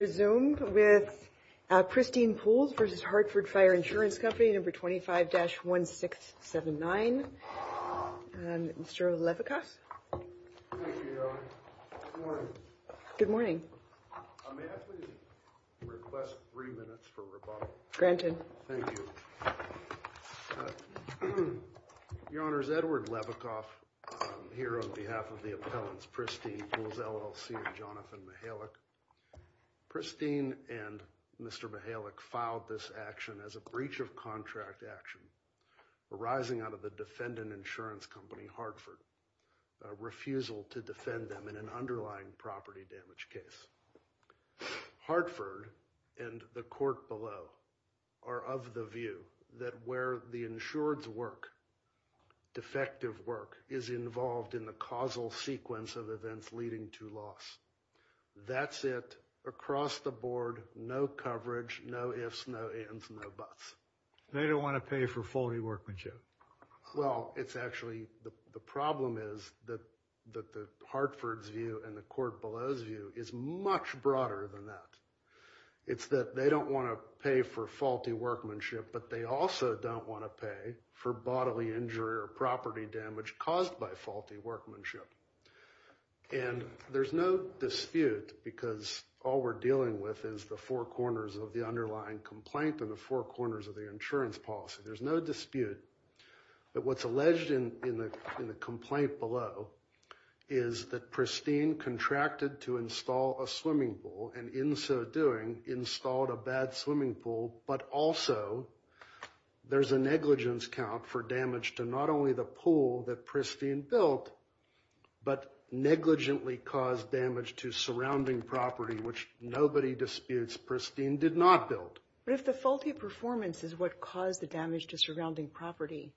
Resume with Pristine Pools v. Hartford Fire Insurance Company number 25-1679 Mr. Levikoff. Good morning. Request three minutes for rebuttal. Thank you. Your Honor's Edward Levikoff here on behalf of the appellants Pristine Pools LLC and Jonathan Mihalik. Christine and Mr. Mihalik filed this action as a breach of contract action arising out of the defendant insurance company Hartford refusal to defend them in an underlying property damage case. Hartford and the court below are of the view that where the insured's work, defective work is involved in the causal sequence of events leading to loss. That's it. Across the board, no coverage, no ifs, no ands, no buts. They don't want to pay for faulty workmanship. Well, it's actually the problem is that the Hartford's view and the court below's view is much broader than that. It's that they don't want to pay for faulty workmanship, but they also don't want to pay for bodily injury or property damage caused by faulty workmanship. And there's no dispute because all we're dealing with is the four corners of the underlying complaint and the four corners of the insurance policy. There's no dispute that what's alleged in the complaint below is that Pristine contracted to install a swimming pool and in so doing installed a bad swimming pool. But also, there's a negligence count for damage to not only the pool that Pristine built, but negligently caused damage to surrounding property, which nobody disputes Pristine did not build. But if the faulty performance is what caused the damage to surrounding property,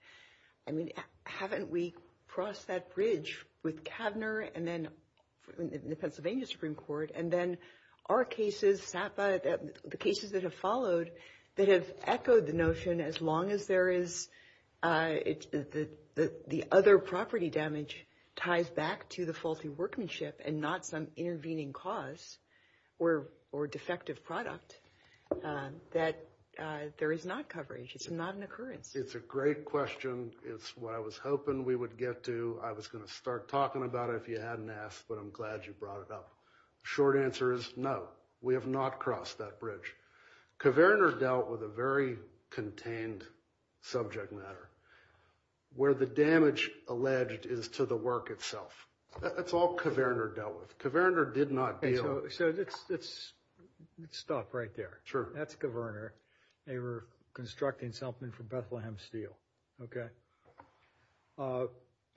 I mean, haven't we crossed that bridge with Kavner and then the Pennsylvania Supreme Court? And then our cases, SAPA, the cases that have followed, that have echoed the notion as long as there is the other property damage ties back to the faulty workmanship and not some intervening cause or defective product, that there is not coverage. It's not an occurrence. It's a great question. It's what I was hoping we would get to. I was going to start talking about it if you hadn't asked, but I'm glad you brought it up. Short answer is no, we have not crossed that bridge. Kavner dealt with a very contained subject matter where the damage alleged is to the work itself. That's all Kavner dealt with. Kavner did not deal. So let's stop right there. Sure. That's Kavner. They were constructing something for Bethlehem Steel. Okay.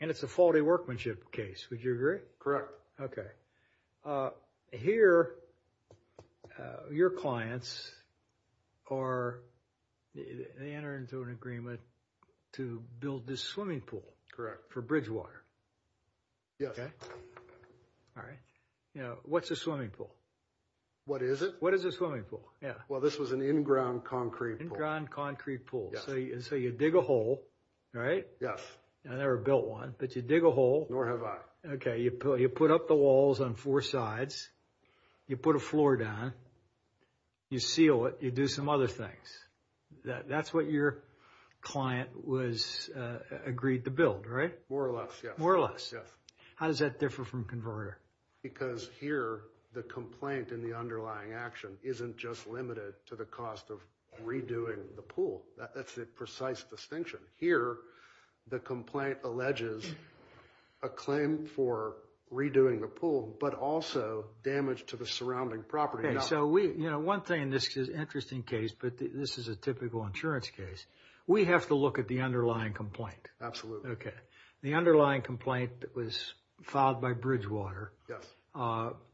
And it's a faulty workmanship case. Would you agree? Okay. Here, your clients are, they enter into an agreement to build this swimming pool. Correct. For Bridgewater. Yes. All right. Now, what's a swimming pool? What is it? What is a swimming pool? Yeah. Well, this was an in-ground concrete pool. In-ground concrete pool. So you dig a hole, right? Yes. I never built one, but you dig a hole. Nor have I. Okay. You put up the walls on four sides. You put a floor down. You seal it. You do some other things. That's what your client was, agreed to build, right? More or less, yes. More or less? Yes. How does that differ from converter? Because here, the complaint and the underlying action isn't just limited to the cost of redoing the pool. That's the precise distinction. Here, the complaint alleges a claim for redoing the pool, but also damage to the surrounding property. Okay. So we, you know, one thing, this is an interesting case, but this is a typical insurance case. We have to look at the underlying complaint. Absolutely. Okay. The underlying complaint was filed by Bridgewater. Yes.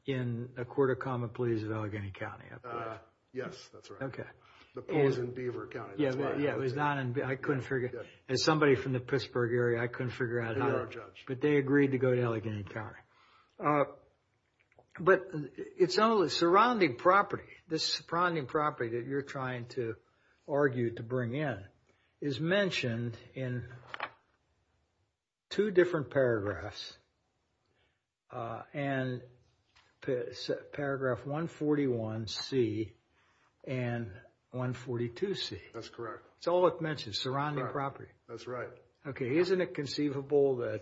In a court of common pleas in Allegheny County. Yes, that's right. Okay. The pool is in Beaver County. Yeah, it was not in, I couldn't figure, as somebody from the Pittsburgh area, I couldn't figure out how, but they agreed to go to Allegheny County. But it's only surrounding property. This surrounding property that you're trying to argue to bring in is mentioned in two different paragraphs. And paragraph 141C and 142C. That's correct. It's all it mentions, surrounding property. That's right. Okay. Isn't it conceivable that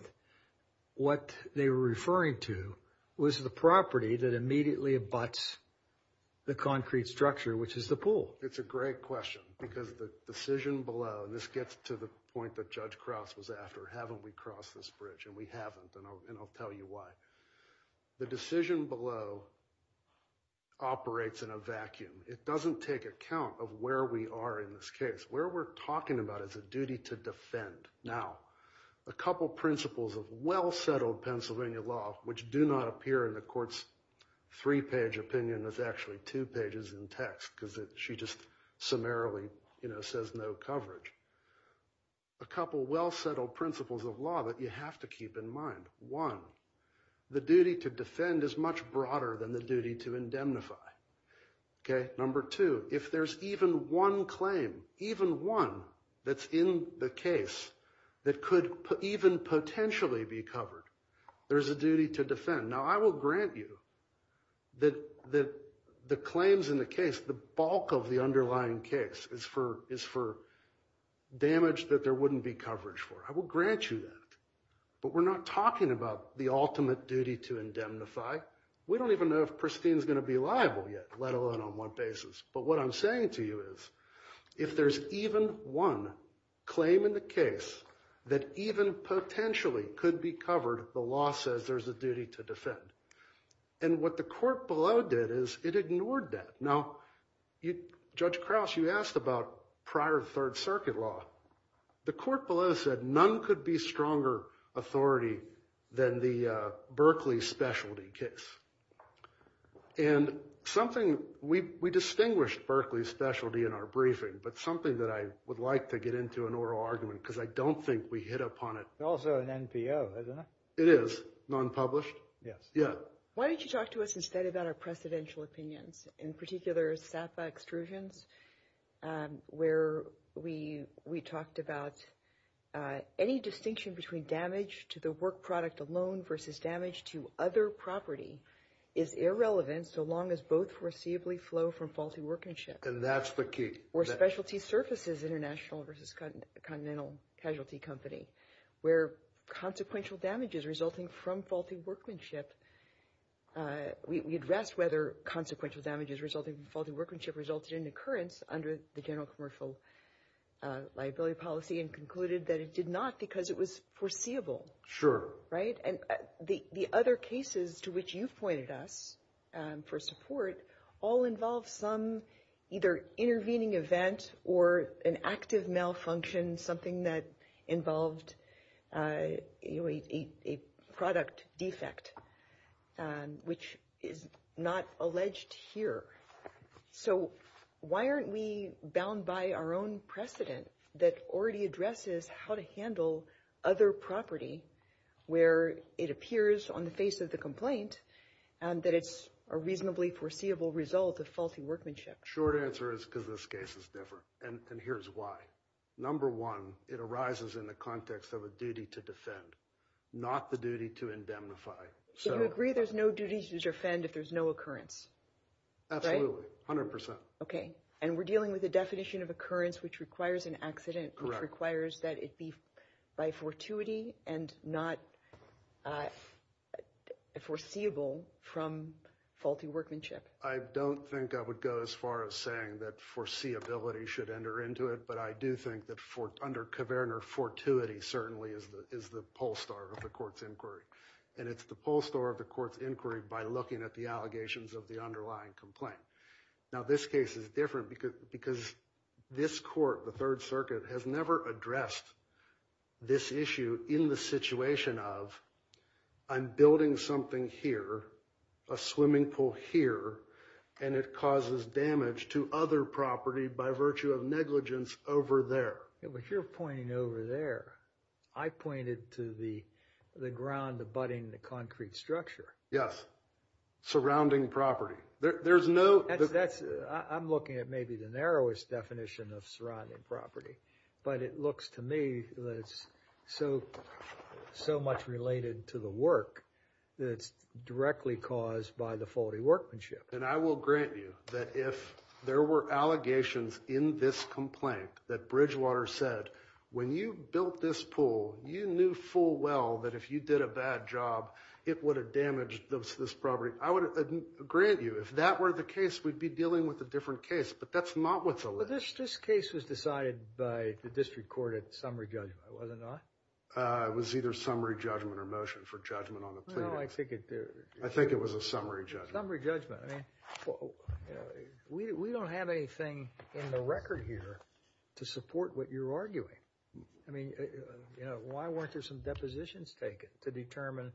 what they were referring to was the property that immediately abuts the concrete structure, which is the pool? It's a great question because the decision below, and this gets to the point that Judge Krause was after, haven't we crossed this bridge? And we haven't. And I'll tell you why. The decision below operates in a vacuum. It doesn't take account of where we are in this case. Where we're talking about is a duty to defend. Now, a couple principles of well-settled Pennsylvania law, which do not appear in the court's three-page opinion. There's actually two pages in text because she just summarily says no coverage. A couple well-settled principles of law that you have to keep in mind. One, the duty to defend is much broader than the duty to indemnify. Okay. Number two, if there's even one claim, even one that's in the case that could even potentially be covered, there's a duty to defend. Now, I will grant you that the claims in the case, the bulk of the underlying case, is for damage that there wouldn't be coverage for. I will grant you that. But we're not talking about the ultimate duty to indemnify. We don't even know if Pristine's going to be liable yet, let alone on what basis. But what I'm saying to you is, if there's even one claim in the case that even potentially could be covered, the law says there's a duty to defend. And what the court below did is it ignored that. Now, Judge Krause, you asked about prior Third Circuit law. The court below said none could be stronger authority than the Berkeley specialty case. And something, we distinguished Berkeley specialty in our briefing, but something that I would like to get into an oral argument because I don't think we hit upon it. It's also an NPO, isn't it? It is. Non-published. Yes. Yeah. Why don't you talk to us instead about our precedential opinions, in particular SAPA extrusions, where we talked about any distinction between damage to the work product alone versus damage to other property is irrelevant so long as both foreseeably flow from faulty workmanship. And that's the key. Or specialty services international versus continental casualty company, where consequential damages resulting from faulty workmanship. We addressed whether consequential damages resulting from faulty workmanship resulted in occurrence under the general commercial liability policy and concluded that it did not because it was foreseeable. Sure. Right. And the other cases to which you pointed us for support all involve some either intervening event or an active malfunction, something that involved a product defect, which is not alleged here. So why aren't we bound by our own precedent that already addresses how to handle other property where it appears on the face of the complaint and that it's a reasonably foreseeable result of faulty workmanship? Short answer is because this case is different. And here's why. Number one, it arises in the context of a duty to defend, not the duty to indemnify. So you agree there's no duty to defend if there's no occurrence? Absolutely. 100 percent. And we're dealing with a definition of occurrence which requires an accident, which requires that it be by fortuity and not foreseeable from faulty workmanship. I don't think I would go as far as saying that foreseeability should enter into it. But I do think that under Kverner, fortuity certainly is the pole star of the court's inquiry. And it's the pole star of the court's inquiry by looking at the allegations of the underlying complaint. Now, this case is different because this court, the Third Circuit, has never addressed this issue in the situation of I'm building something here, a swimming pool here, and it causes damage to other property by virtue of negligence over there. Yeah, but you're pointing over there. I pointed to the ground abutting the concrete structure. Yes. Surrounding property. There's no... I'm looking at maybe the narrowest definition of surrounding property, but it looks to me that it's so much related to the work that it's directly caused by the faulty workmanship. And I will grant you that if there were allegations in this complaint that Bridgewater said, when you built this pool, you knew full well that if you did a bad job, it would have damaged this property. I would grant you, if that were the case, we'd be dealing with a different case. But that's not what's alleged. This case was decided by the district court at summary judgment, was it not? It was either summary judgment or motion for judgment on the plea. No, I think it was a summary judgment. Summary judgment. I mean, we don't have anything in the record here to support what you're arguing. I mean, you know, why weren't there some depositions taken to determine,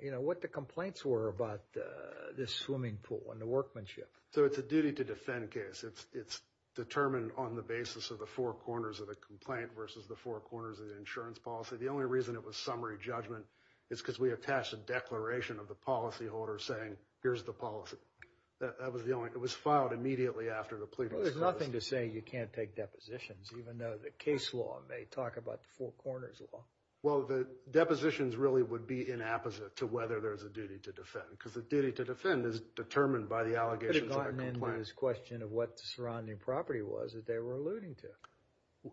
you know, what the complaints were about this swimming pool and the workmanship? So it's a duty to defend case. It's determined on the basis of the four corners of a complaint versus the four corners of the insurance policy. The only reason it was summary judgment is because we attached a declaration of the policyholder saying, here's the policy. That was the only, it was filed immediately after the plea. There's nothing to say you can't take depositions, even though the case law may talk about the four corners law. Well, the depositions really would be inapposite to whether there's a duty to defend, because the duty to defend is determined by the allegations of a complaint. Could have gotten into this question of what the surrounding property was that they were alluding to.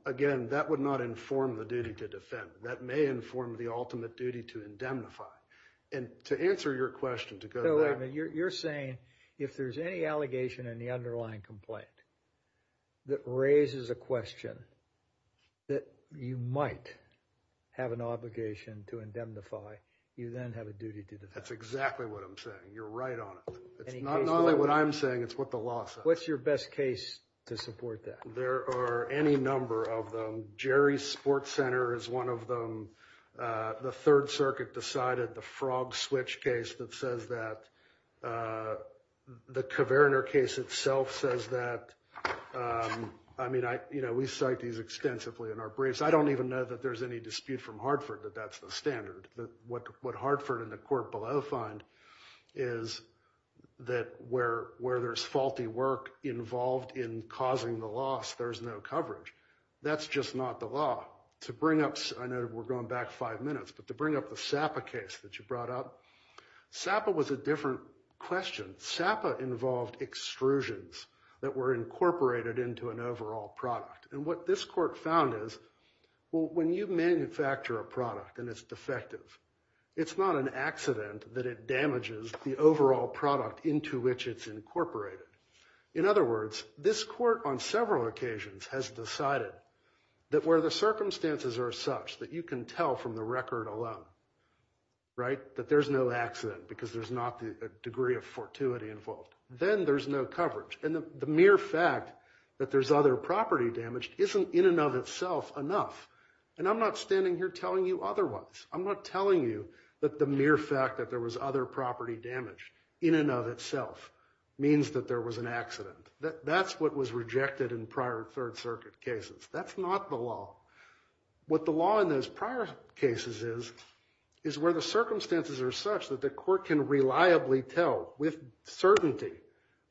Again, that would not inform the duty to defend. That may inform the ultimate duty to indemnify. And to answer your question, to go there, you're saying if there's any allegation in the underlying complaint that raises a question that you might have an obligation to indemnify, you then have a duty to defend. That's exactly what I'm saying. You're right on it. It's not only what I'm saying. It's what the law says. What's your best case to support that? There are any number of them. Jerry's Sports Center is one of them. The Third Circuit decided the Frog Switch case that says that. The Kverner case itself says that. I mean, we cite these extensively in our briefs. I don't even know that there's any dispute from Hartford that that's the standard. What Hartford and the court below find is that where there's faulty work involved in causing the loss, there's no coverage. That's just not the law. To bring up, I know we're going back five minutes, but to bring up the Sapa case that you brought up, Sapa was a different question. Sapa involved extrusions that were incorporated into an overall product. And what this court found is, well, when you manufacture a product and it's defective, it's not an accident that it damages the overall product into which it's incorporated. In other words, this court on several occasions has decided that where the circumstances are such that you can tell from the record alone, right, that there's no accident because there's not a degree of fortuity involved, then there's no coverage. And the mere fact that there's other property damage isn't in and of itself enough. And I'm not standing here telling you otherwise. I'm not telling you that the mere fact that there was other property damage in and of itself means that there was an accident. That's what was rejected in prior Third Circuit cases. That's not the law. What the law in those prior cases is, is where the circumstances are such that the court can reliably tell with certainty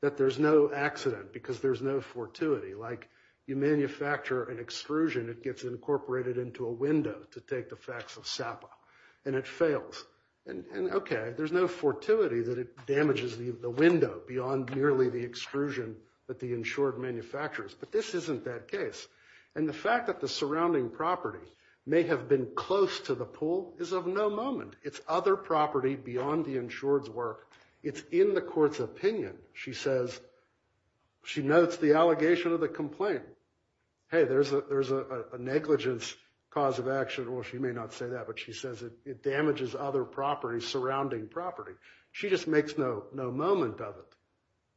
that there's no accident because there's no fortuity. Like you manufacture an extrusion, it gets incorporated into a window to take the facts of SAPA, and it fails. And okay, there's no fortuity that it damages the window beyond merely the extrusion that the insured manufactures. But this isn't that case. And the fact that the surrounding property may have been close to the pool is of no moment. It's other property beyond the insured's work. It's in the court's opinion. She says, she notes the allegation of the complaint. Hey, there's a negligence cause of action. Well, she may not say that, but she says it damages other properties surrounding property. She just makes no moment of it.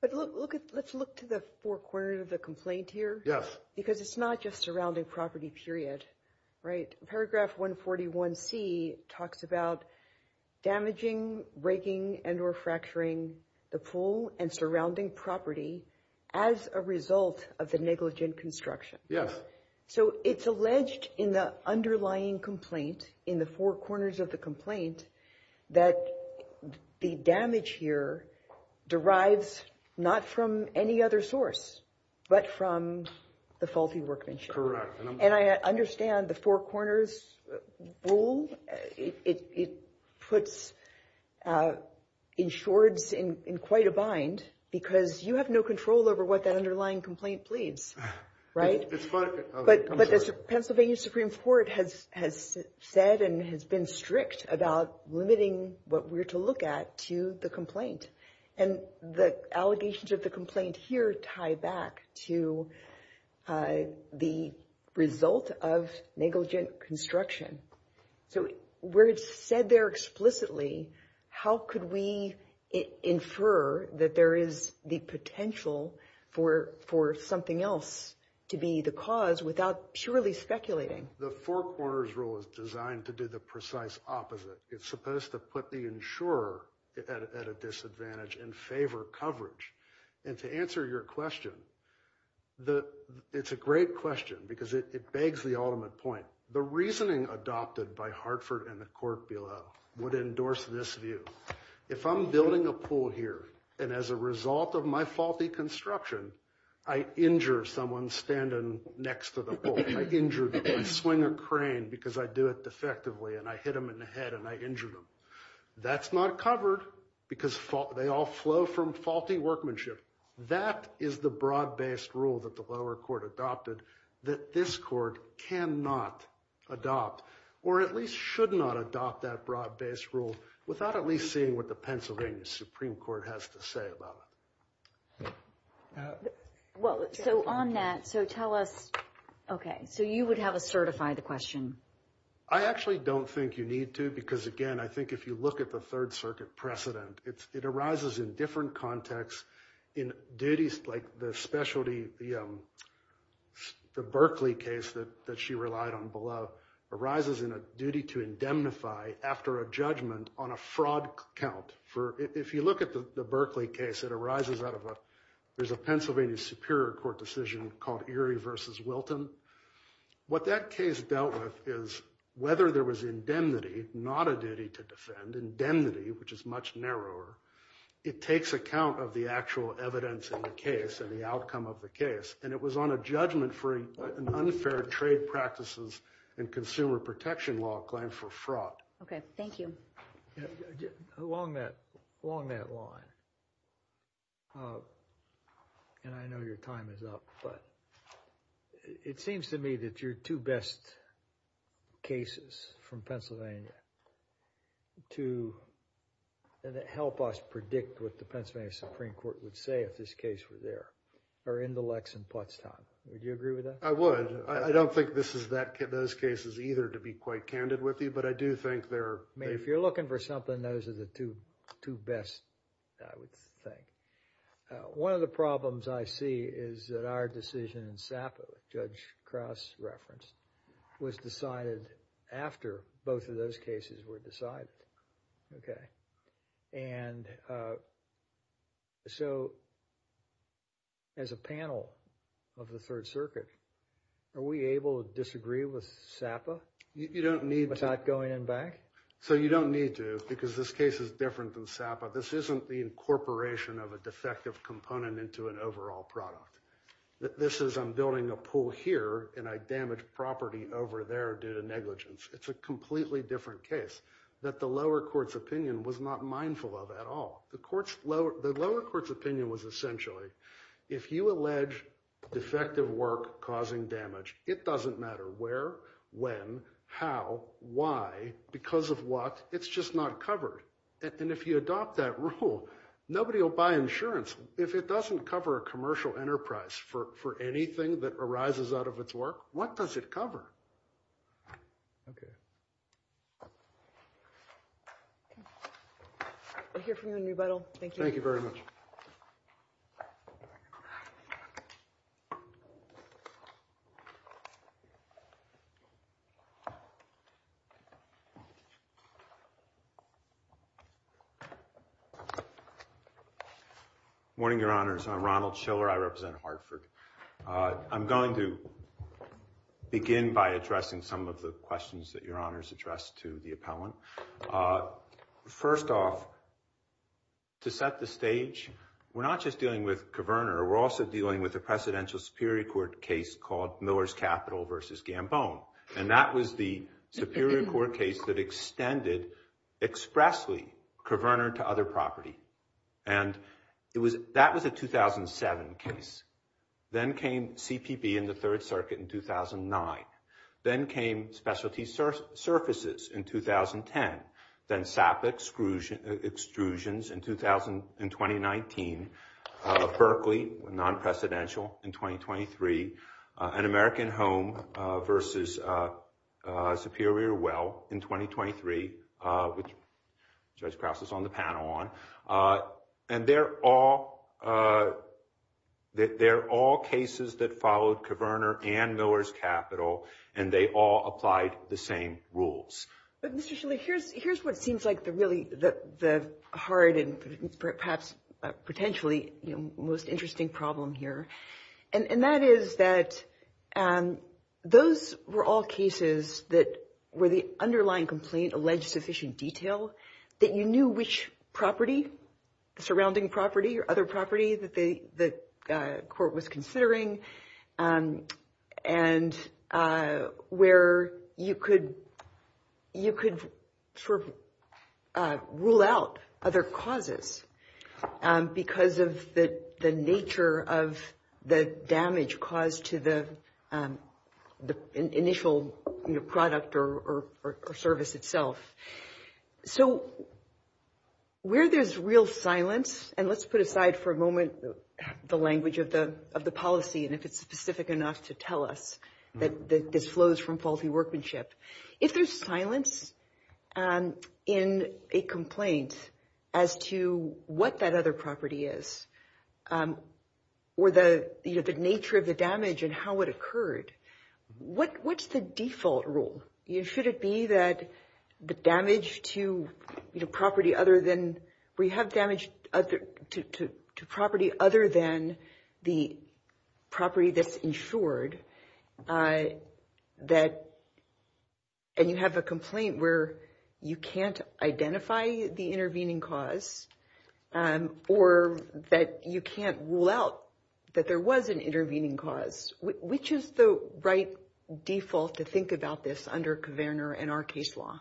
But look, let's look to the four corners of the complaint here. Yes. Because it's not just surrounding property period, right? Paragraph 141C talks about damaging, raking, and or fracturing the pool and surrounding property as a result of the negligent construction. Yes. So it's alleged in the underlying complaint, in the four corners of the complaint, that the damage here derives not from any other source, but from the faulty workmanship. Correct. And I understand the four corners rule. It puts insured's in quite a bind because you have no control over what that underlying complaint pleads, right? It's fine. But the Pennsylvania Supreme Court has said and has been strict about limiting what we're to look at to the complaint. And the allegations of the complaint here tie back to the result of negligent construction. So where it's said there explicitly, how could we infer that there is the potential for something else to be the cause without purely speculating? The four corners rule is designed to do the precise opposite. It's supposed to put the insurer at a disadvantage and favor coverage. And to answer your question, it's a great question because it begs the ultimate point. The reasoning adopted by Hartford and the court below would endorse this view. If I'm building a pool here and as a result of my faulty construction, I injure someone standing next to the pool. I injure, I swing a crane because I do it defectively and I hit him in the head and I injured him. That's not covered because they all flow from faulty workmanship. That is the broad based rule that the lower court adopted that this court cannot adopt or at least should not adopt that broad based rule without at least seeing what the Pennsylvania Supreme Court has to say about it. Well, so on that, so tell us, OK, so you would have a certify the question. I actually don't think you need to, because again, I think if you look at the Third Circuit precedent, it arises in different contexts in duties like the specialty, the Berkeley case that she relied on below arises in a duty to indemnify after a judgment on a fraud count. For if you look at the Berkeley case, it arises out of a there's a Pennsylvania Superior Court decision called Erie versus Wilton. What that case dealt with is whether there was indemnity, not a duty to defend indemnity, which is much narrower. It takes account of the actual evidence in the case and the outcome of the case. And it was on a judgment for an unfair trade practices and consumer protection law claim for fraud. OK, thank you. Along that along that line. And I know your time is up, but it seems to me that you're two best cases from Pennsylvania. To help us predict what the Pennsylvania Supreme Court would say if this case were there or in the Lex and Pottstown, would you agree with that? I would. I don't think this is that those cases either to be quite candid with you, but I do think there. I mean, if you're looking for something, those are the two two best, I would think. One of the problems I see is that our decision in Sapa, Judge Krauss reference, was decided after both of those cases were decided. OK. And. So. As a panel of the Third Circuit, are we able to disagree with Sapa? You don't need without going in back. So you don't need to because this case is different than Sapa. This isn't the incorporation of a defective component into an overall product. This is I'm building a pool here and I damage property over there due to negligence. It's a completely different case that the lower court's opinion was not mindful of at all. The lower court's opinion was essentially if you allege defective work causing damage, it doesn't matter where, when, how, why, because of what. It's just not covered. And if you adopt that rule, nobody will buy insurance if it doesn't cover a commercial enterprise for anything that arises out of its work. What does it cover? OK. I hear from you in rebuttal. Thank you. Thank you very much. Morning, Your Honors. I'm Ronald Schiller. I represent Hartford. I'm going to begin by addressing some of the questions that Your Honors addressed to the appellant. First off, to set the stage, we're not just dealing with Coverner. We're also dealing with a presidential Superior Court case called Miller's Capital versus Gambone. And that was the Superior Court case that extended expressly Coverner to other property. And that was a 2007 case. Then came CPP in the Third Circuit in 2009. Then came Specialty Surfaces in 2010. Then SAP extrusions in 2019. Berkeley, non-presidential in 2023. And American Home versus Superior Well in 2023, which Judge Krause is on the panel on. And they're all cases that followed Coverner and Miller's Capital. And they all applied the same rules. Mr. Schiller, here's what seems like the really hard and perhaps potentially most interesting problem here. And that is that those were all cases that were the underlying complaint alleged sufficient detail. That you knew which property, surrounding property or other property that the court was considering. And where you could rule out other causes because of the nature of the damage caused to the initial product or service itself. So where there's real silence and let's put aside for a moment the language of the policy. And if it's specific enough to tell us that this flows from faulty workmanship. If there's silence in a complaint as to what that other property is or the nature of the damage and how it occurred. What's the default rule? Should it be that the damage to property other than, where you have damage to property other than the property that's insured. That and you have a complaint where you can't identify the intervening cause. Or that you can't rule out that there was an intervening cause. Which is the right default to think about this under Kverner and our case law?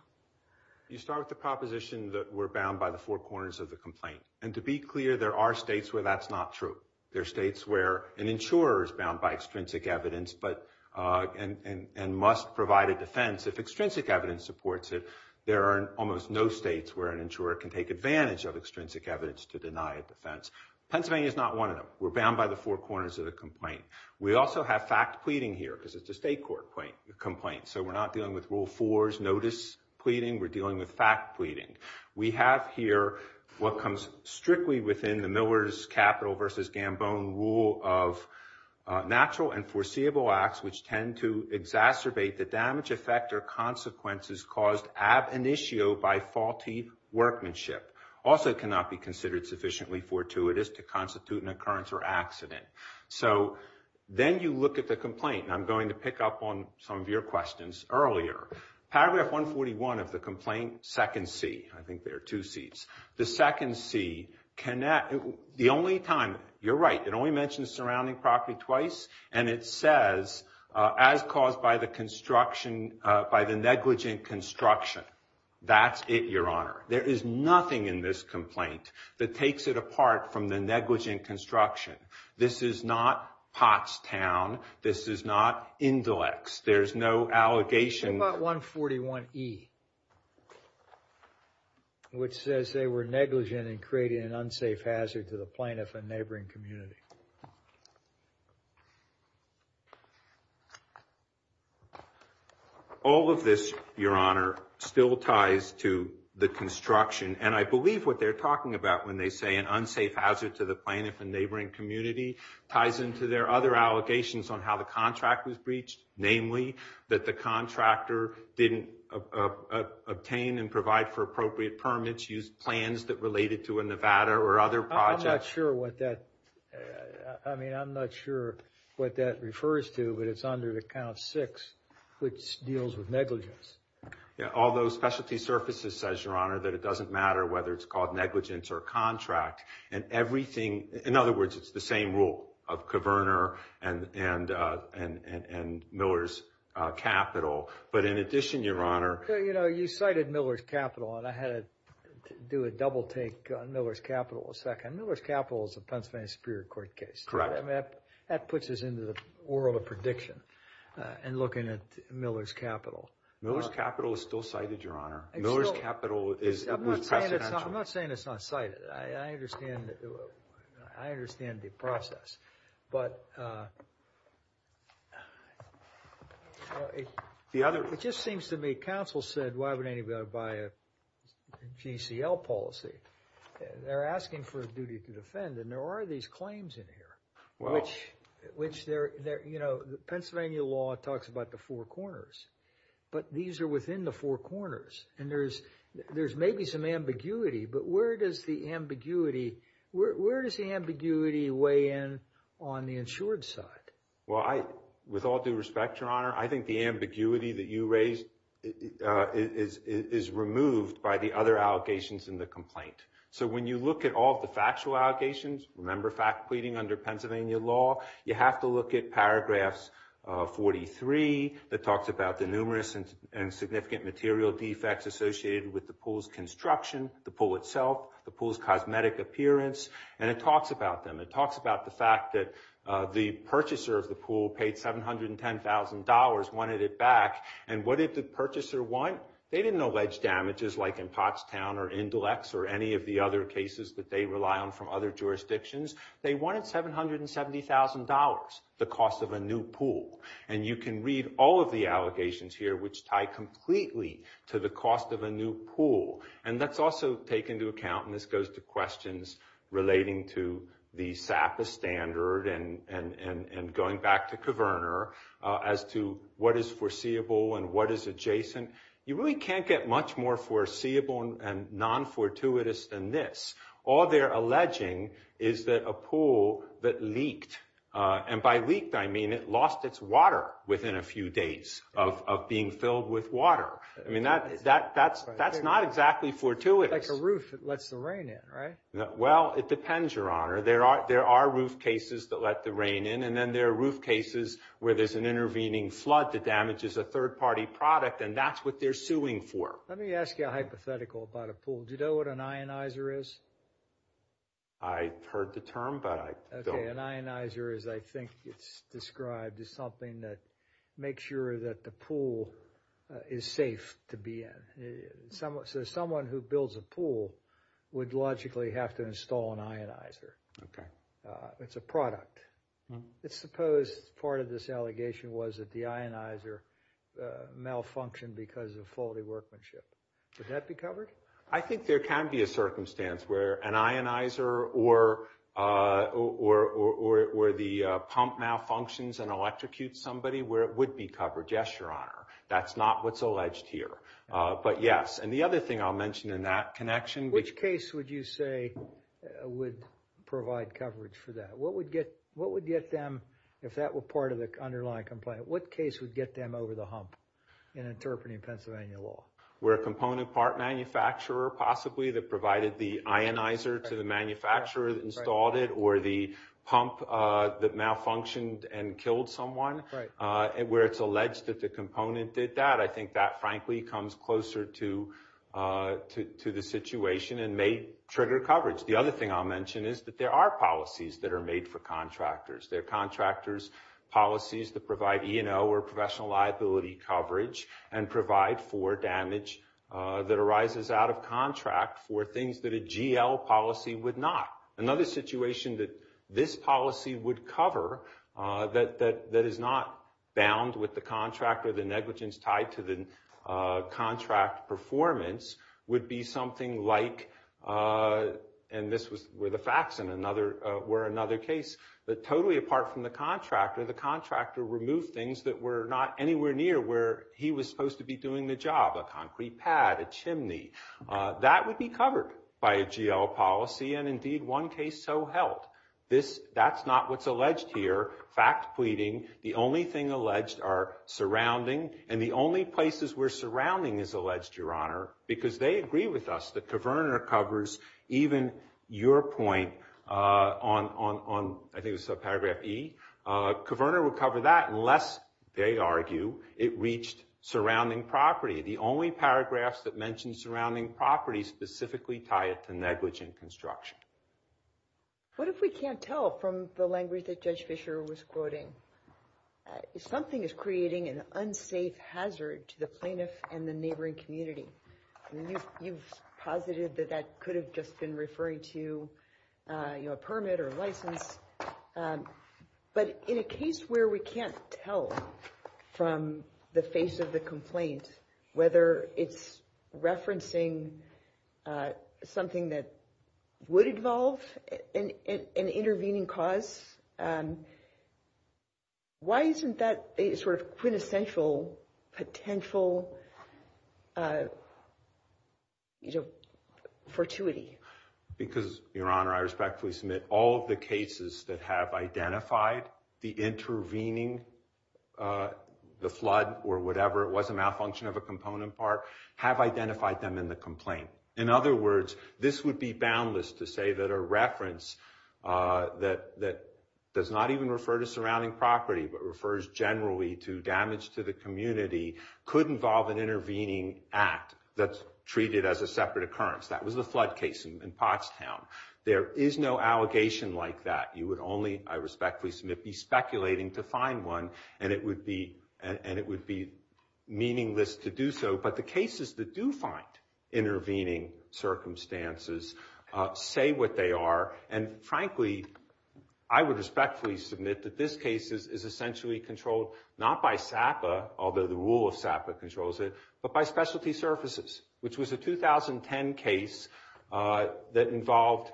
You start with the proposition that we're bound by the four corners of the complaint. And to be clear, there are states where that's not true. There are states where an insurer is bound by extrinsic evidence but and must provide a defense. If extrinsic evidence supports it, there are almost no states where an insurer can take advantage of extrinsic evidence to deny a defense. Pennsylvania is not one of them. We're bound by the four corners of the complaint. We also have fact pleading here because it's a state court complaint. So we're not dealing with rule four's notice pleading. We're dealing with fact pleading. We have here what comes strictly within the Miller's capital versus Gambone rule of natural and foreseeable acts which tend to exacerbate the damage effect or consequences caused ab initio by faulty workmanship. Also cannot be considered sufficiently fortuitous to constitute an occurrence or accident. So then you look at the complaint. And I'm going to pick up on some of your questions earlier. Paragraph 141 of the complaint, second C. I think there are two Cs. The second C, the only time, you're right, it only mentions surrounding property twice. And it says, as caused by the construction, by the negligent construction. That's it, Your Honor. There is nothing in this complaint that takes it apart from the negligent construction. This is not Pottstown. This is not Indelex. There's no allegation. What about 141E? Which says they were negligent and created an unsafe hazard to the plaintiff and neighboring community. All of this, Your Honor, still ties to the construction. And I believe what they're talking about when they say an unsafe hazard to the plaintiff and neighboring community ties into their other allegations on how the contract was breached. Namely, that the contractor didn't obtain and provide for appropriate permits, used plans that related to a Nevada or other projects. I'm not sure what that, I mean, I'm not sure what that refers to. But it's under the count six, which deals with negligence. All those specialty surfaces says, Your Honor, that it doesn't matter whether it's called negligence or contract. And everything, in other words, it's the same rule of Coverner and Miller's Capital. But in addition, Your Honor. You know, you cited Miller's Capital and I had to do a double take on Miller's Capital a second. Miller's Capital is a Pennsylvania Superior Court case. That puts us into the world of prediction and looking at Miller's Capital. Miller's Capital is still cited, Your Honor. Miller's Capital is. I'm not saying it's not cited. I understand. I understand the process, but. The other. It just seems to me. Counsel said, why would anybody buy a GCL policy? They're asking for a duty to defend. And there are these claims in here, which, which they're, you know, the Pennsylvania law talks about the four corners. But these are within the four corners. And there's, there's maybe some ambiguity. But where does the ambiguity, where does the ambiguity weigh in on the insured side? Well, I, with all due respect, Your Honor. I think the ambiguity that you raised is removed by the other allegations in the complaint. So when you look at all the factual allegations, remember fact pleading under Pennsylvania law. You have to look at paragraphs 43 that talks about the numerous and significant material defects associated with the pool's construction. The pool itself, the pool's cosmetic appearance, and it talks about them. It talks about the fact that the purchaser of the pool paid $710,000, wanted it back. And what did the purchaser want? They didn't allege damages like in Pottstown or Indelex or any of the other cases that they rely on from other jurisdictions. They wanted $770,000, the cost of a new pool. And you can read all of the allegations here, which tie completely to the cost of a new pool. And that's also taken into account. And this goes to questions relating to the SAPA standard and going back to Caverner as to what is foreseeable and what is adjacent. You really can't get much more foreseeable and non-fortuitous than this. All they're alleging is that a pool that leaked, and by leaked I mean it lost its water within a few days of being filled with water. I mean, that's not exactly fortuitous. Like a roof that lets the rain in, right? Well, it depends, Your Honor. There are roof cases that let the rain in, and then there are roof cases where there's an intervening flood that damages a third party product. And that's what they're suing for. Let me ask you a hypothetical about a pool. Do you know what an ionizer is? I've heard the term, but I don't. Okay, an ionizer is, I think it's described as something that makes sure that the pool is safe to be in. So someone who builds a pool would logically have to install an ionizer. Okay. It's a product. It's supposed, part of this allegation was that the ionizer malfunctioned because of faulty workmanship. Would that be covered? I think there can be a circumstance where an ionizer or the pump malfunctions and electrocutes somebody where it would be covered. Yes, Your Honor. That's not what's alleged here. But yes, and the other thing I'll mention in that connection. Which case would you say would provide coverage for that? What would get them, if that were part of the underlying complaint, what case would get them over the hump in interpreting Pennsylvania law? Where a component part manufacturer possibly that provided the ionizer to the manufacturer that installed it, or the pump that malfunctioned and killed someone, where it's alleged that the component did that. I think that, frankly, comes closer to the situation and may trigger coverage. The other thing I'll mention is that there are policies that are made for contractors. There are contractors' policies that provide E&O or professional liability coverage and provide for damage that arises out of contract for things that a GL policy would not. Another situation that this policy would cover that is not bound with the contractor, the negligence tied to the contract performance, would be something like, and this was where the facts were another case, that totally apart from the contractor, the contractor removed things that were not anywhere near where he was supposed to be doing the job. A concrete pad, a chimney. That would be covered by a GL policy. And indeed, one case so held. That's not what's alleged here. Fact pleading. The only thing alleged are surrounding. And the only places we're surrounding is alleged, Your Honor, because they agree with us that Kaverner covers even your point on, I think it was subparagraph E. Kaverner would cover that unless they argue it reached surrounding property. The only paragraphs that mention surrounding property specifically tie it to negligent construction. What if we can't tell from the language that Judge Fischer was quoting? Something is creating an unsafe hazard to the plaintiff and the neighboring community. You've posited that that could have just been referring to a permit or license. But in a case where we can't tell from the face of the complaint, whether it's referencing something that would involve an intervening cause, why isn't that a sort of quintessential potential fortuity? Because, Your Honor, I respectfully submit all of the cases that have identified the intervening, the flood or whatever it was, a malfunction of a component part, have identified them in the complaint. In other words, this would be boundless to say that a reference that does not even refer to surrounding property, but refers generally to damage to the community, could involve an intervening act that's treated as a separate occurrence. That was the flood case in Pottstown. There is no allegation like that. You would only, I respectfully submit, be speculating to find one, and it would be meaningless to do so. But the cases that do find intervening circumstances say what they are. And frankly, I would respectfully submit that this case is essentially controlled not by SAPA, although the rule of SAPA controls it, but by specialty services, which was a 2010 case that involved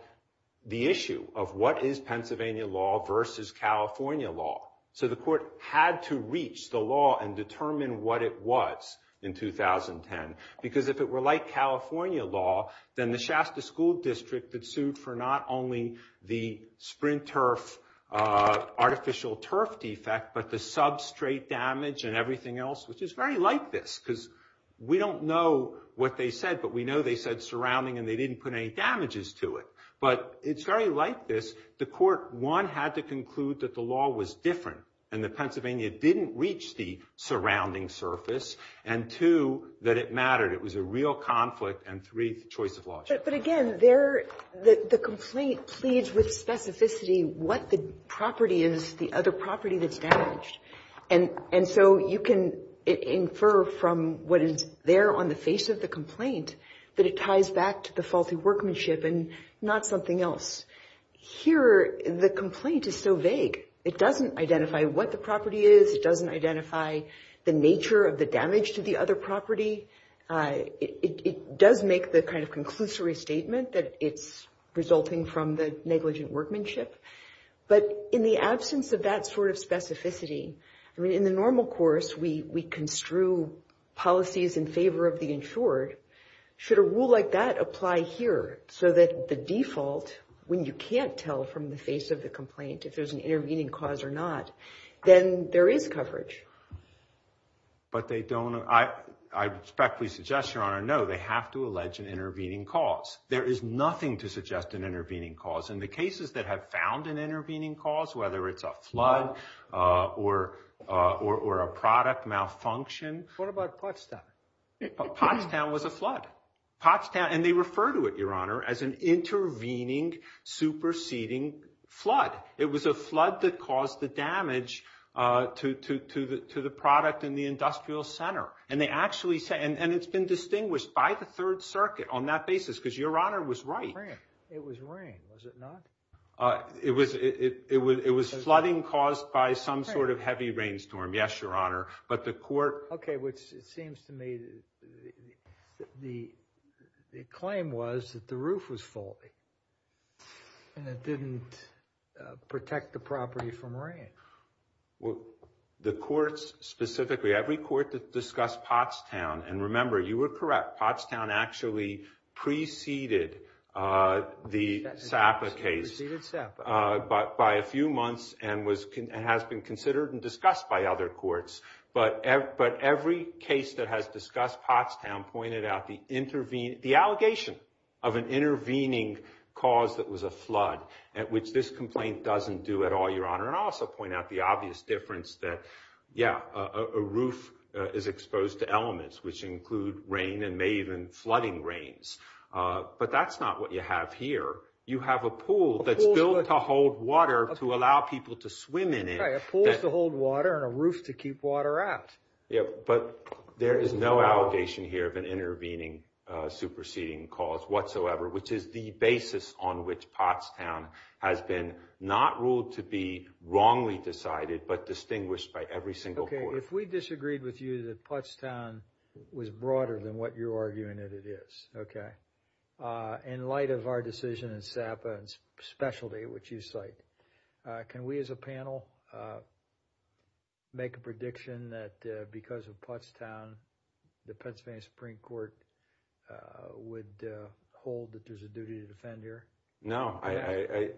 the issue of what is Pennsylvania law versus California law. So the court had to reach the law and determine what it was in 2010. Because if it were like California law, then the Shasta School District had sued for not only the Sprint Turf, artificial turf defect, but the substrate damage and everything else, which is very like this, because we don't know what they said, but we know they said surrounding and they didn't put any damages to it. But it's very like this. The court, one, had to conclude that the law was different and that Pennsylvania didn't reach the surrounding surface. And two, that it mattered. It was a real conflict. And three, the choice of law. But again, the complaint pleads with specificity what the property is, the other property that's damaged. And so you can infer from what is there on the face of the complaint that it ties back to the faulty workmanship and not something else. Here, the complaint is so vague. It doesn't identify what the property is. It doesn't identify the nature of the damage to the other property. It does make the kind of conclusory statement that it's resulting from the negligent workmanship. But in the absence of that sort of specificity, I mean, in the normal course, we construe policies in favor of the insured. Should a rule like that apply here? So that the default, when you can't tell from the face of the complaint if there's an intervening cause or not, then there is coverage. But they don't, I respectfully suggest, Your Honor, no, they have to allege an intervening cause. There is nothing to suggest an intervening cause. In the cases that have found an intervening cause, whether it's a flood or a product malfunction. What about Pottstown? Pottstown was a flood. Pottstown, and they refer to it, Your Honor, as an intervening, superseding flood. It was a flood that caused the damage to the product in the industrial center. And it's been distinguished by the Third Circuit on that basis because Your Honor was right. It was rain, was it not? It was flooding caused by some sort of heavy rainstorm, yes, Your Honor. But the court... Okay, which it seems to me that the claim was that the roof was faulty and it didn't protect the property from rain. Well, the courts specifically, every court that discussed Pottstown, and remember, you were correct, Pottstown actually preceded the SAPA case by a few months and has been considered and discussed by other courts. But every case that has discussed Pottstown pointed out the allegation of an intervening cause that was a flood at which this complaint doesn't do at all, Your Honor. And I'll also point out the obvious difference that, yeah, a roof is exposed to elements which include rain and may even flooding rains. But that's not what you have here. You have a pool that's built to hold water to allow people to swim in it. Right, a pool to hold water and a roof to keep water out. Yeah, but there is no allegation here of an intervening, superseding cause whatsoever which is the basis on which Pottstown has been not ruled to be wrongly decided but distinguished by every single court. Okay, if we disagreed with you that Pottstown was broader than what you're arguing that it is, okay, in light of our decision in SAPA and specialty which you cite, can we as a panel make a prediction that because of Pottstown, the Pennsylvania Supreme Court would hold that there's a duty to defend here? No.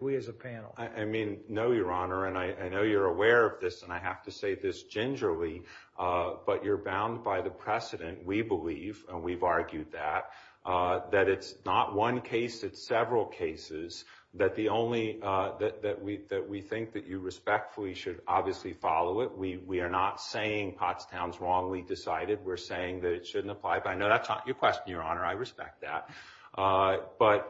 We as a panel. I mean, no, Your Honor, and I know you're aware of this and I have to say this gingerly, but you're bound by the precedent, we believe, and we've argued that, that it's not one case, it's several cases that we think that you respectfully should obviously follow it. We are not saying Pottstown's wrongly decided. We're saying that it shouldn't apply. But I know that's not your question, Your Honor. I respect that. But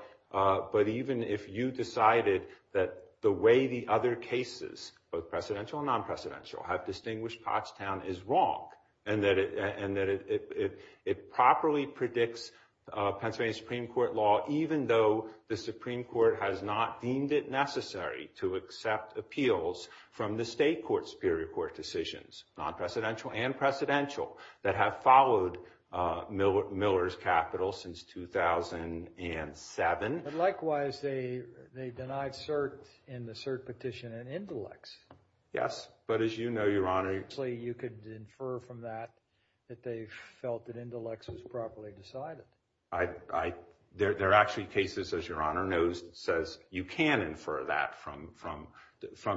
even if you decided that the way the other cases, both precedential and non-precedential, have distinguished Pottstown is wrong and that it properly predicts Pennsylvania Supreme Court law even though the Supreme Court has not deemed it necessary to accept appeals from the state court's superior court decisions, non-precedential and precedential, that have followed Miller's capital since 2007. But likewise, they denied cert in the cert petition in Indilex. Yes, but as you know, Your Honor, Actually, you could infer from that that they felt that Indilex was properly decided. There are actually cases, as Your Honor knows and says, you can infer that from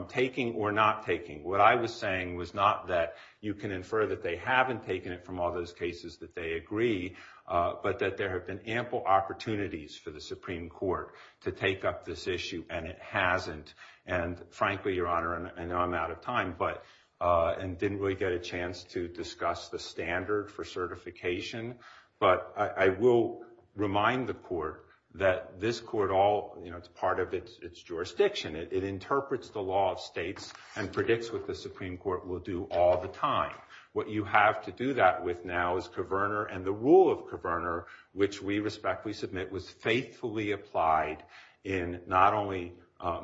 taking or not taking. What I was saying was not that you can infer that they haven't taken it from all those cases that they agree, but that there have been ample opportunities for the Supreme Court to take up this issue and it hasn't. And frankly, Your Honor, I know I'm out of time and didn't really get a chance to discuss the standard for certification, but I will remind the court that this court all, you know, it's part of its jurisdiction. It interprets the law of states and predicts what the Supreme Court will do all the time. What you have to do that with now is Coverner and the rule of Coverner, which we respectfully submit, was faithfully applied in not only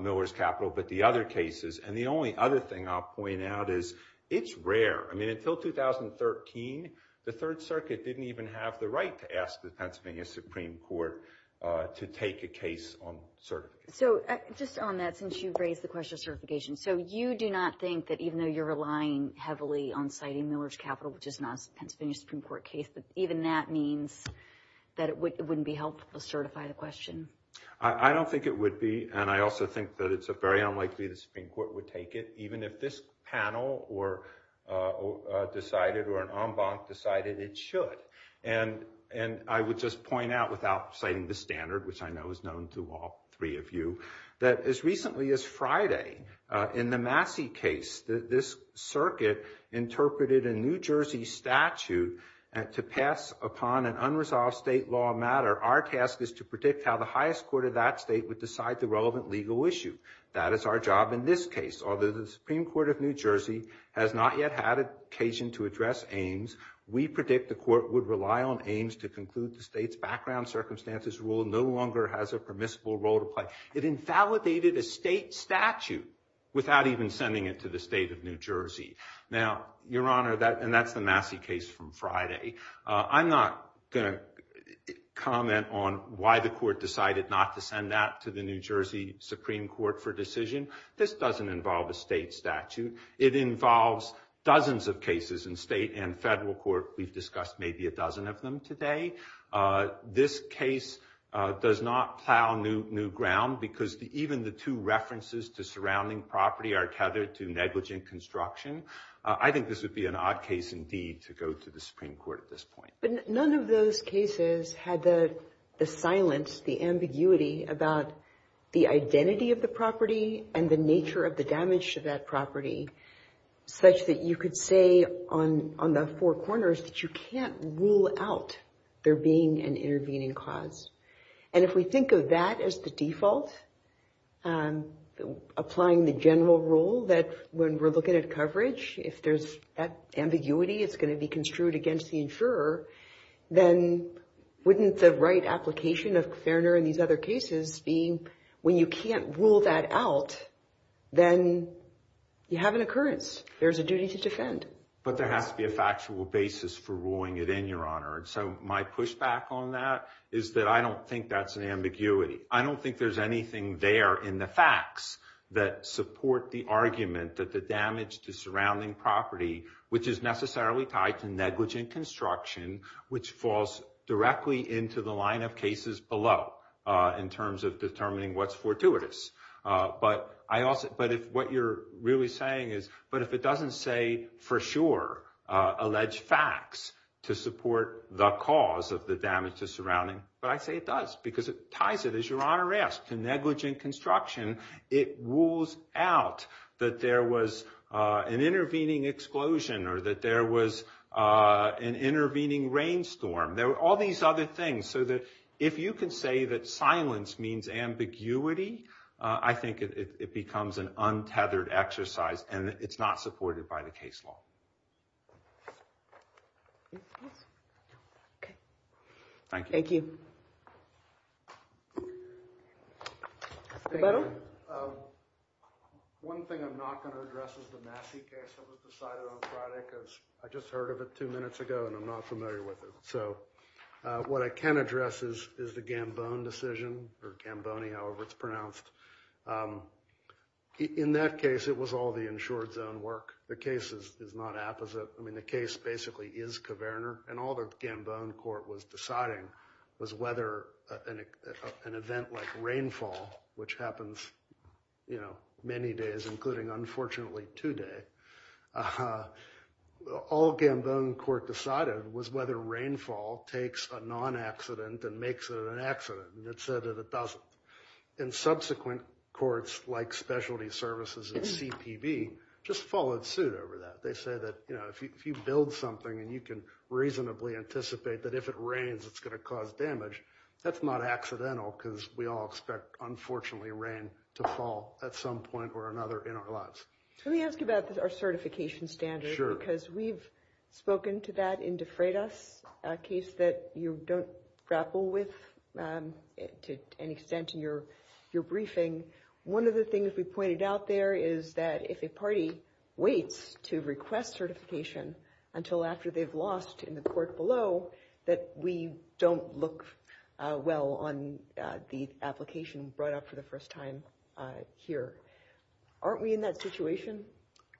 Miller's capital but the other cases. And the only other thing I'll point out is it's rare. I mean, until 2013, the Third Circuit didn't even have the right to ask the Pennsylvania Supreme Court to take a case on certification. So, just on that, since you've raised the question of certification, so you do not think that even though you're relying heavily on citing Miller's capital, which is not a Pennsylvania Supreme Court case, that even that means that it wouldn't be helpful to certify the question? I don't think it would be and I also think that it's very unlikely the Supreme Court would take it, even if this panel decided or an en banc decided it should. And I would just point out without citing the standard, which I know is known to all three of you, that as recently as Friday in the Massey case, this circuit interpreted a New Jersey statute to pass upon an unresolved state law matter. Our task is to predict how the highest court of that state would decide the relevant legal issue. That is our job in this case. Although the Supreme Court of New Jersey has not yet had occasion to address Ames, we predict the court would rely on Ames to conclude the state's background circumstances rule no longer has a permissible role to play. It invalidated a state statute without even sending it to the state of New Jersey. Now, Your Honor, and that's the Massey case from Friday, I'm not going to comment on why the court decided not to send that to the New Jersey Supreme Court for decision. This doesn't involve a state statute. It involves dozens of cases in state and federal court. We've discussed maybe a dozen of them today. This case does not plow new ground because even the two references to surrounding property are tethered to negligent construction. I think this would be an odd case indeed to go to the Supreme Court at this point. But none of those cases had the silence, the ambiguity about the identity of the property and the nature of the damage to that property such that you could say on the four corners that you can't rule out there being an intervening cause. And if we think of that as the default applying the general rule that when we're looking at coverage, if there's that ambiguity, it's going to be construed against the insurer, then wouldn't the right application of Fairner and these other cases be when you can't rule that out then you have an occurrence. There's a duty to defend. But there has to be a factual basis for ruling it in, Your Honor. So my pushback on that is that I don't think that's an ambiguity. I don't think there's anything there in the facts that support the argument that the damage to surrounding property, which is necessarily tied to negligent construction, which falls directly into the line of cases below in terms of determining what's fortuitous. But what you're really saying is, but if it doesn't say for sure, alleged facts to support the cause of the damage to surrounding, but I say it does because it ties it, as Your Honor asked, to negligent construction. It rules out that there was an intervening explosion or that there was an intervening rainstorm. All these other things. If you can say that silence means ambiguity, I think it becomes an untethered exercise and it's not supported by the case law. Thank you. One thing I'm not going to address is the Massey case that was reported two minutes ago and I'm not familiar with it. What I can address is the Gambone decision or Gambone, however it's pronounced. In that case, it was all the insured zone work. The case is not opposite. I mean, the case basically is Kaverner and all the Gambone court was deciding was whether an event like rainfall, which happens many days, including unfortunately today, all Gambone court decided was whether rainfall takes a non-accident and makes it an accident. It said that it doesn't. Subsequent courts, like Specialty Services and CPB, just followed suit over that. They said that if you build something and you can reasonably anticipate that if it rains, it's going to cause damage, that's not accidental because we all expect, unfortunately, rain to fall at some point or another in our lives. Let me ask about our certification standard because we've spoken to that in De Freitas, a case that you don't grapple with to any extent in your briefing. One of the things we pointed out there is that if a party waits to request certification until after they've lost in the court below, that we don't look well on the application brought up for the first time here. Aren't we in that situation?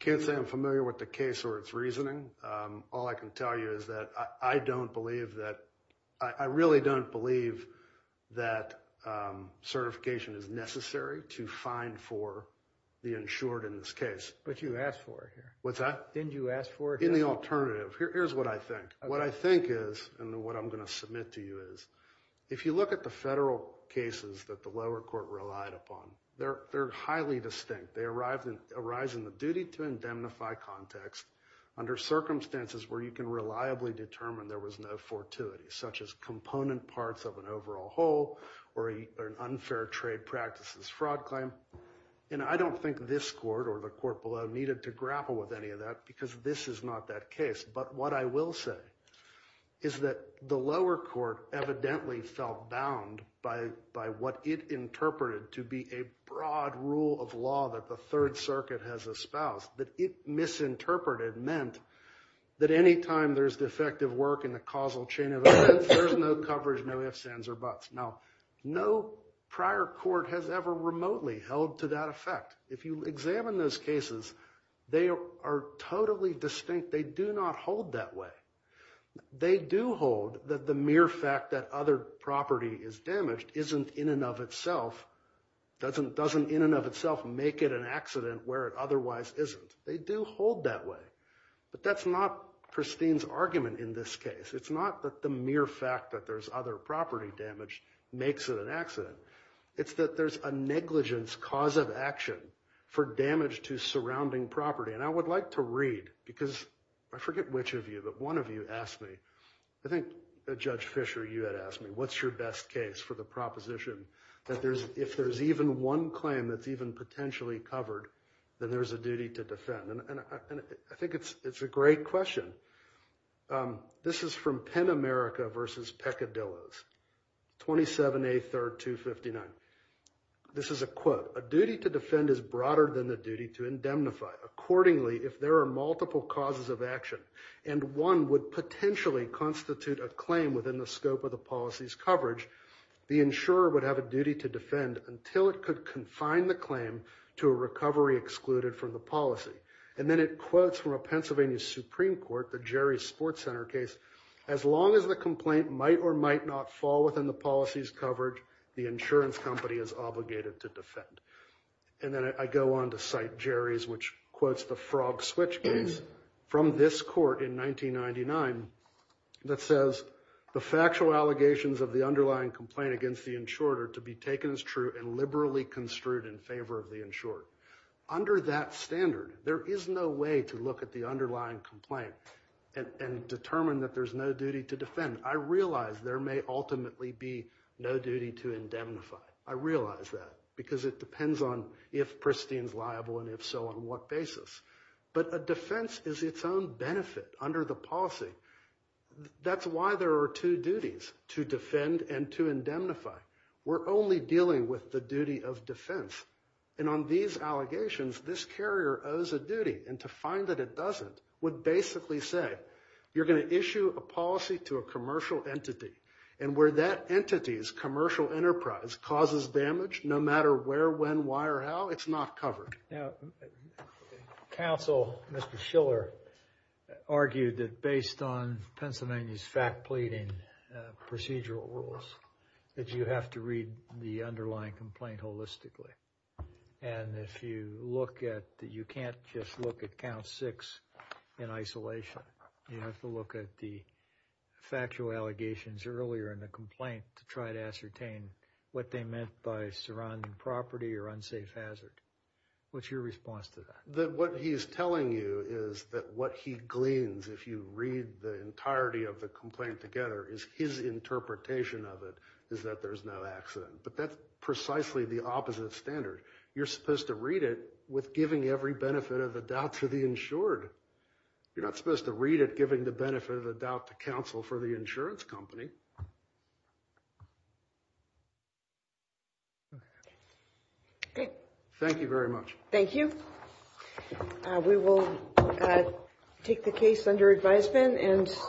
I can't say I'm familiar with the case or its reasoning. All I can tell you is that I don't believe that I really don't believe that certification is necessary to find for the insured in this case. But you asked for it. What's that? Didn't you ask for it? In the alternative. Here's what I think. What I think is, and what I'm going to submit to you is, if you look at the federal cases that the lower court relied upon, they're highly distinct. They arise in the duty to indemnify context under circumstances where you can reliably determine there was no fortuity, such as component parts of an overall whole or an unfair trade practices fraud claim. And I don't think this court or the court below needed to grapple with any of that because this is not that case. But what I will say is that the lower court evidently felt bound by what it interpreted to be a broad rule of law that the Third Circuit has espoused that it misinterpreted meant that anytime there's defective work in the causal chain of events there's no coverage, no ifs, ands, or buts. Now, no prior court has ever remotely held to that effect. If you examine those cases, they are totally distinct. They do not hold that way. They do hold that the mere fact that other property is damaged isn't in and of itself doesn't in and of itself make it an accident where it otherwise isn't. They do hold that way. But that's not Christine's argument in this case. It's not that the mere fact that there's other property damage makes it an accident. It's that there's a negligence cause of action for damage to surrounding property. And I would like to read because I forget which of you, but one of you asked me, I think Judge Fisher, you had asked me, what's your best case for the proposition that if there's even one claim that's even potentially covered then there's a duty to defend? And I think it's a great question. This is from Penn America v. Peccadillo's 27A 3rd 259 This is a quote. A duty to defend is broader than the duty to indemnify. Accordingly, if there are multiple causes of action and one would potentially constitute a claim within the scope of the policy's coverage the insurer would have a duty to defend until it could confine the claim to a recovery excluded from the policy. And then it quotes from a Pennsylvania Supreme Court the Jerry's Sports Center case as long as the complaint might or might not fall within the policy's coverage the insurance company is obligated to defend. And then I go on to cite Jerry's which quotes the Frog Switch case from this court in 1999 that says the factual allegations of the underlying complaint against the insurer are to be taken as true and liberally construed in favor of the insurer. Under that standard, there is no way to look at the underlying complaint and determine that there's no duty to defend. I realize there may ultimately be no duty to indemnify. I realize that because it depends on if Pristine is liable and if so on what basis. But a defense is its own benefit under the policy. That's why there are two duties to defend and to indemnify. We're only dealing with the duty of defense. And on these allegations, this carrier owes a duty and to find that it doesn't would basically say you're going to issue a policy to a commercial entity and where that entity's commercial enterprise causes damage, no matter where, when, why, or how, it's not covered. Now, the counsel, Mr. Schiller, argued that based on Pennsylvania's fact pleading procedural rules, that you have to read the underlying complaint holistically. And if you look at you can't just look at count six in isolation. You have to look at the factual allegations earlier in the complaint to try to ascertain what they meant by surrounding property or unsafe hazard. What's your response to that? That what he's telling you is that what he gleans if you read the entirety of the complaint together is his interpretation of it is that there's no accident. But that's precisely the opposite standard. You're supposed to read it with giving every benefit of the doubt to the insured. You're not supposed to read it giving the benefit of the doubt to counsel for the insurance company. Okay. Thank you very much. Thank you. We will take the case under advisement and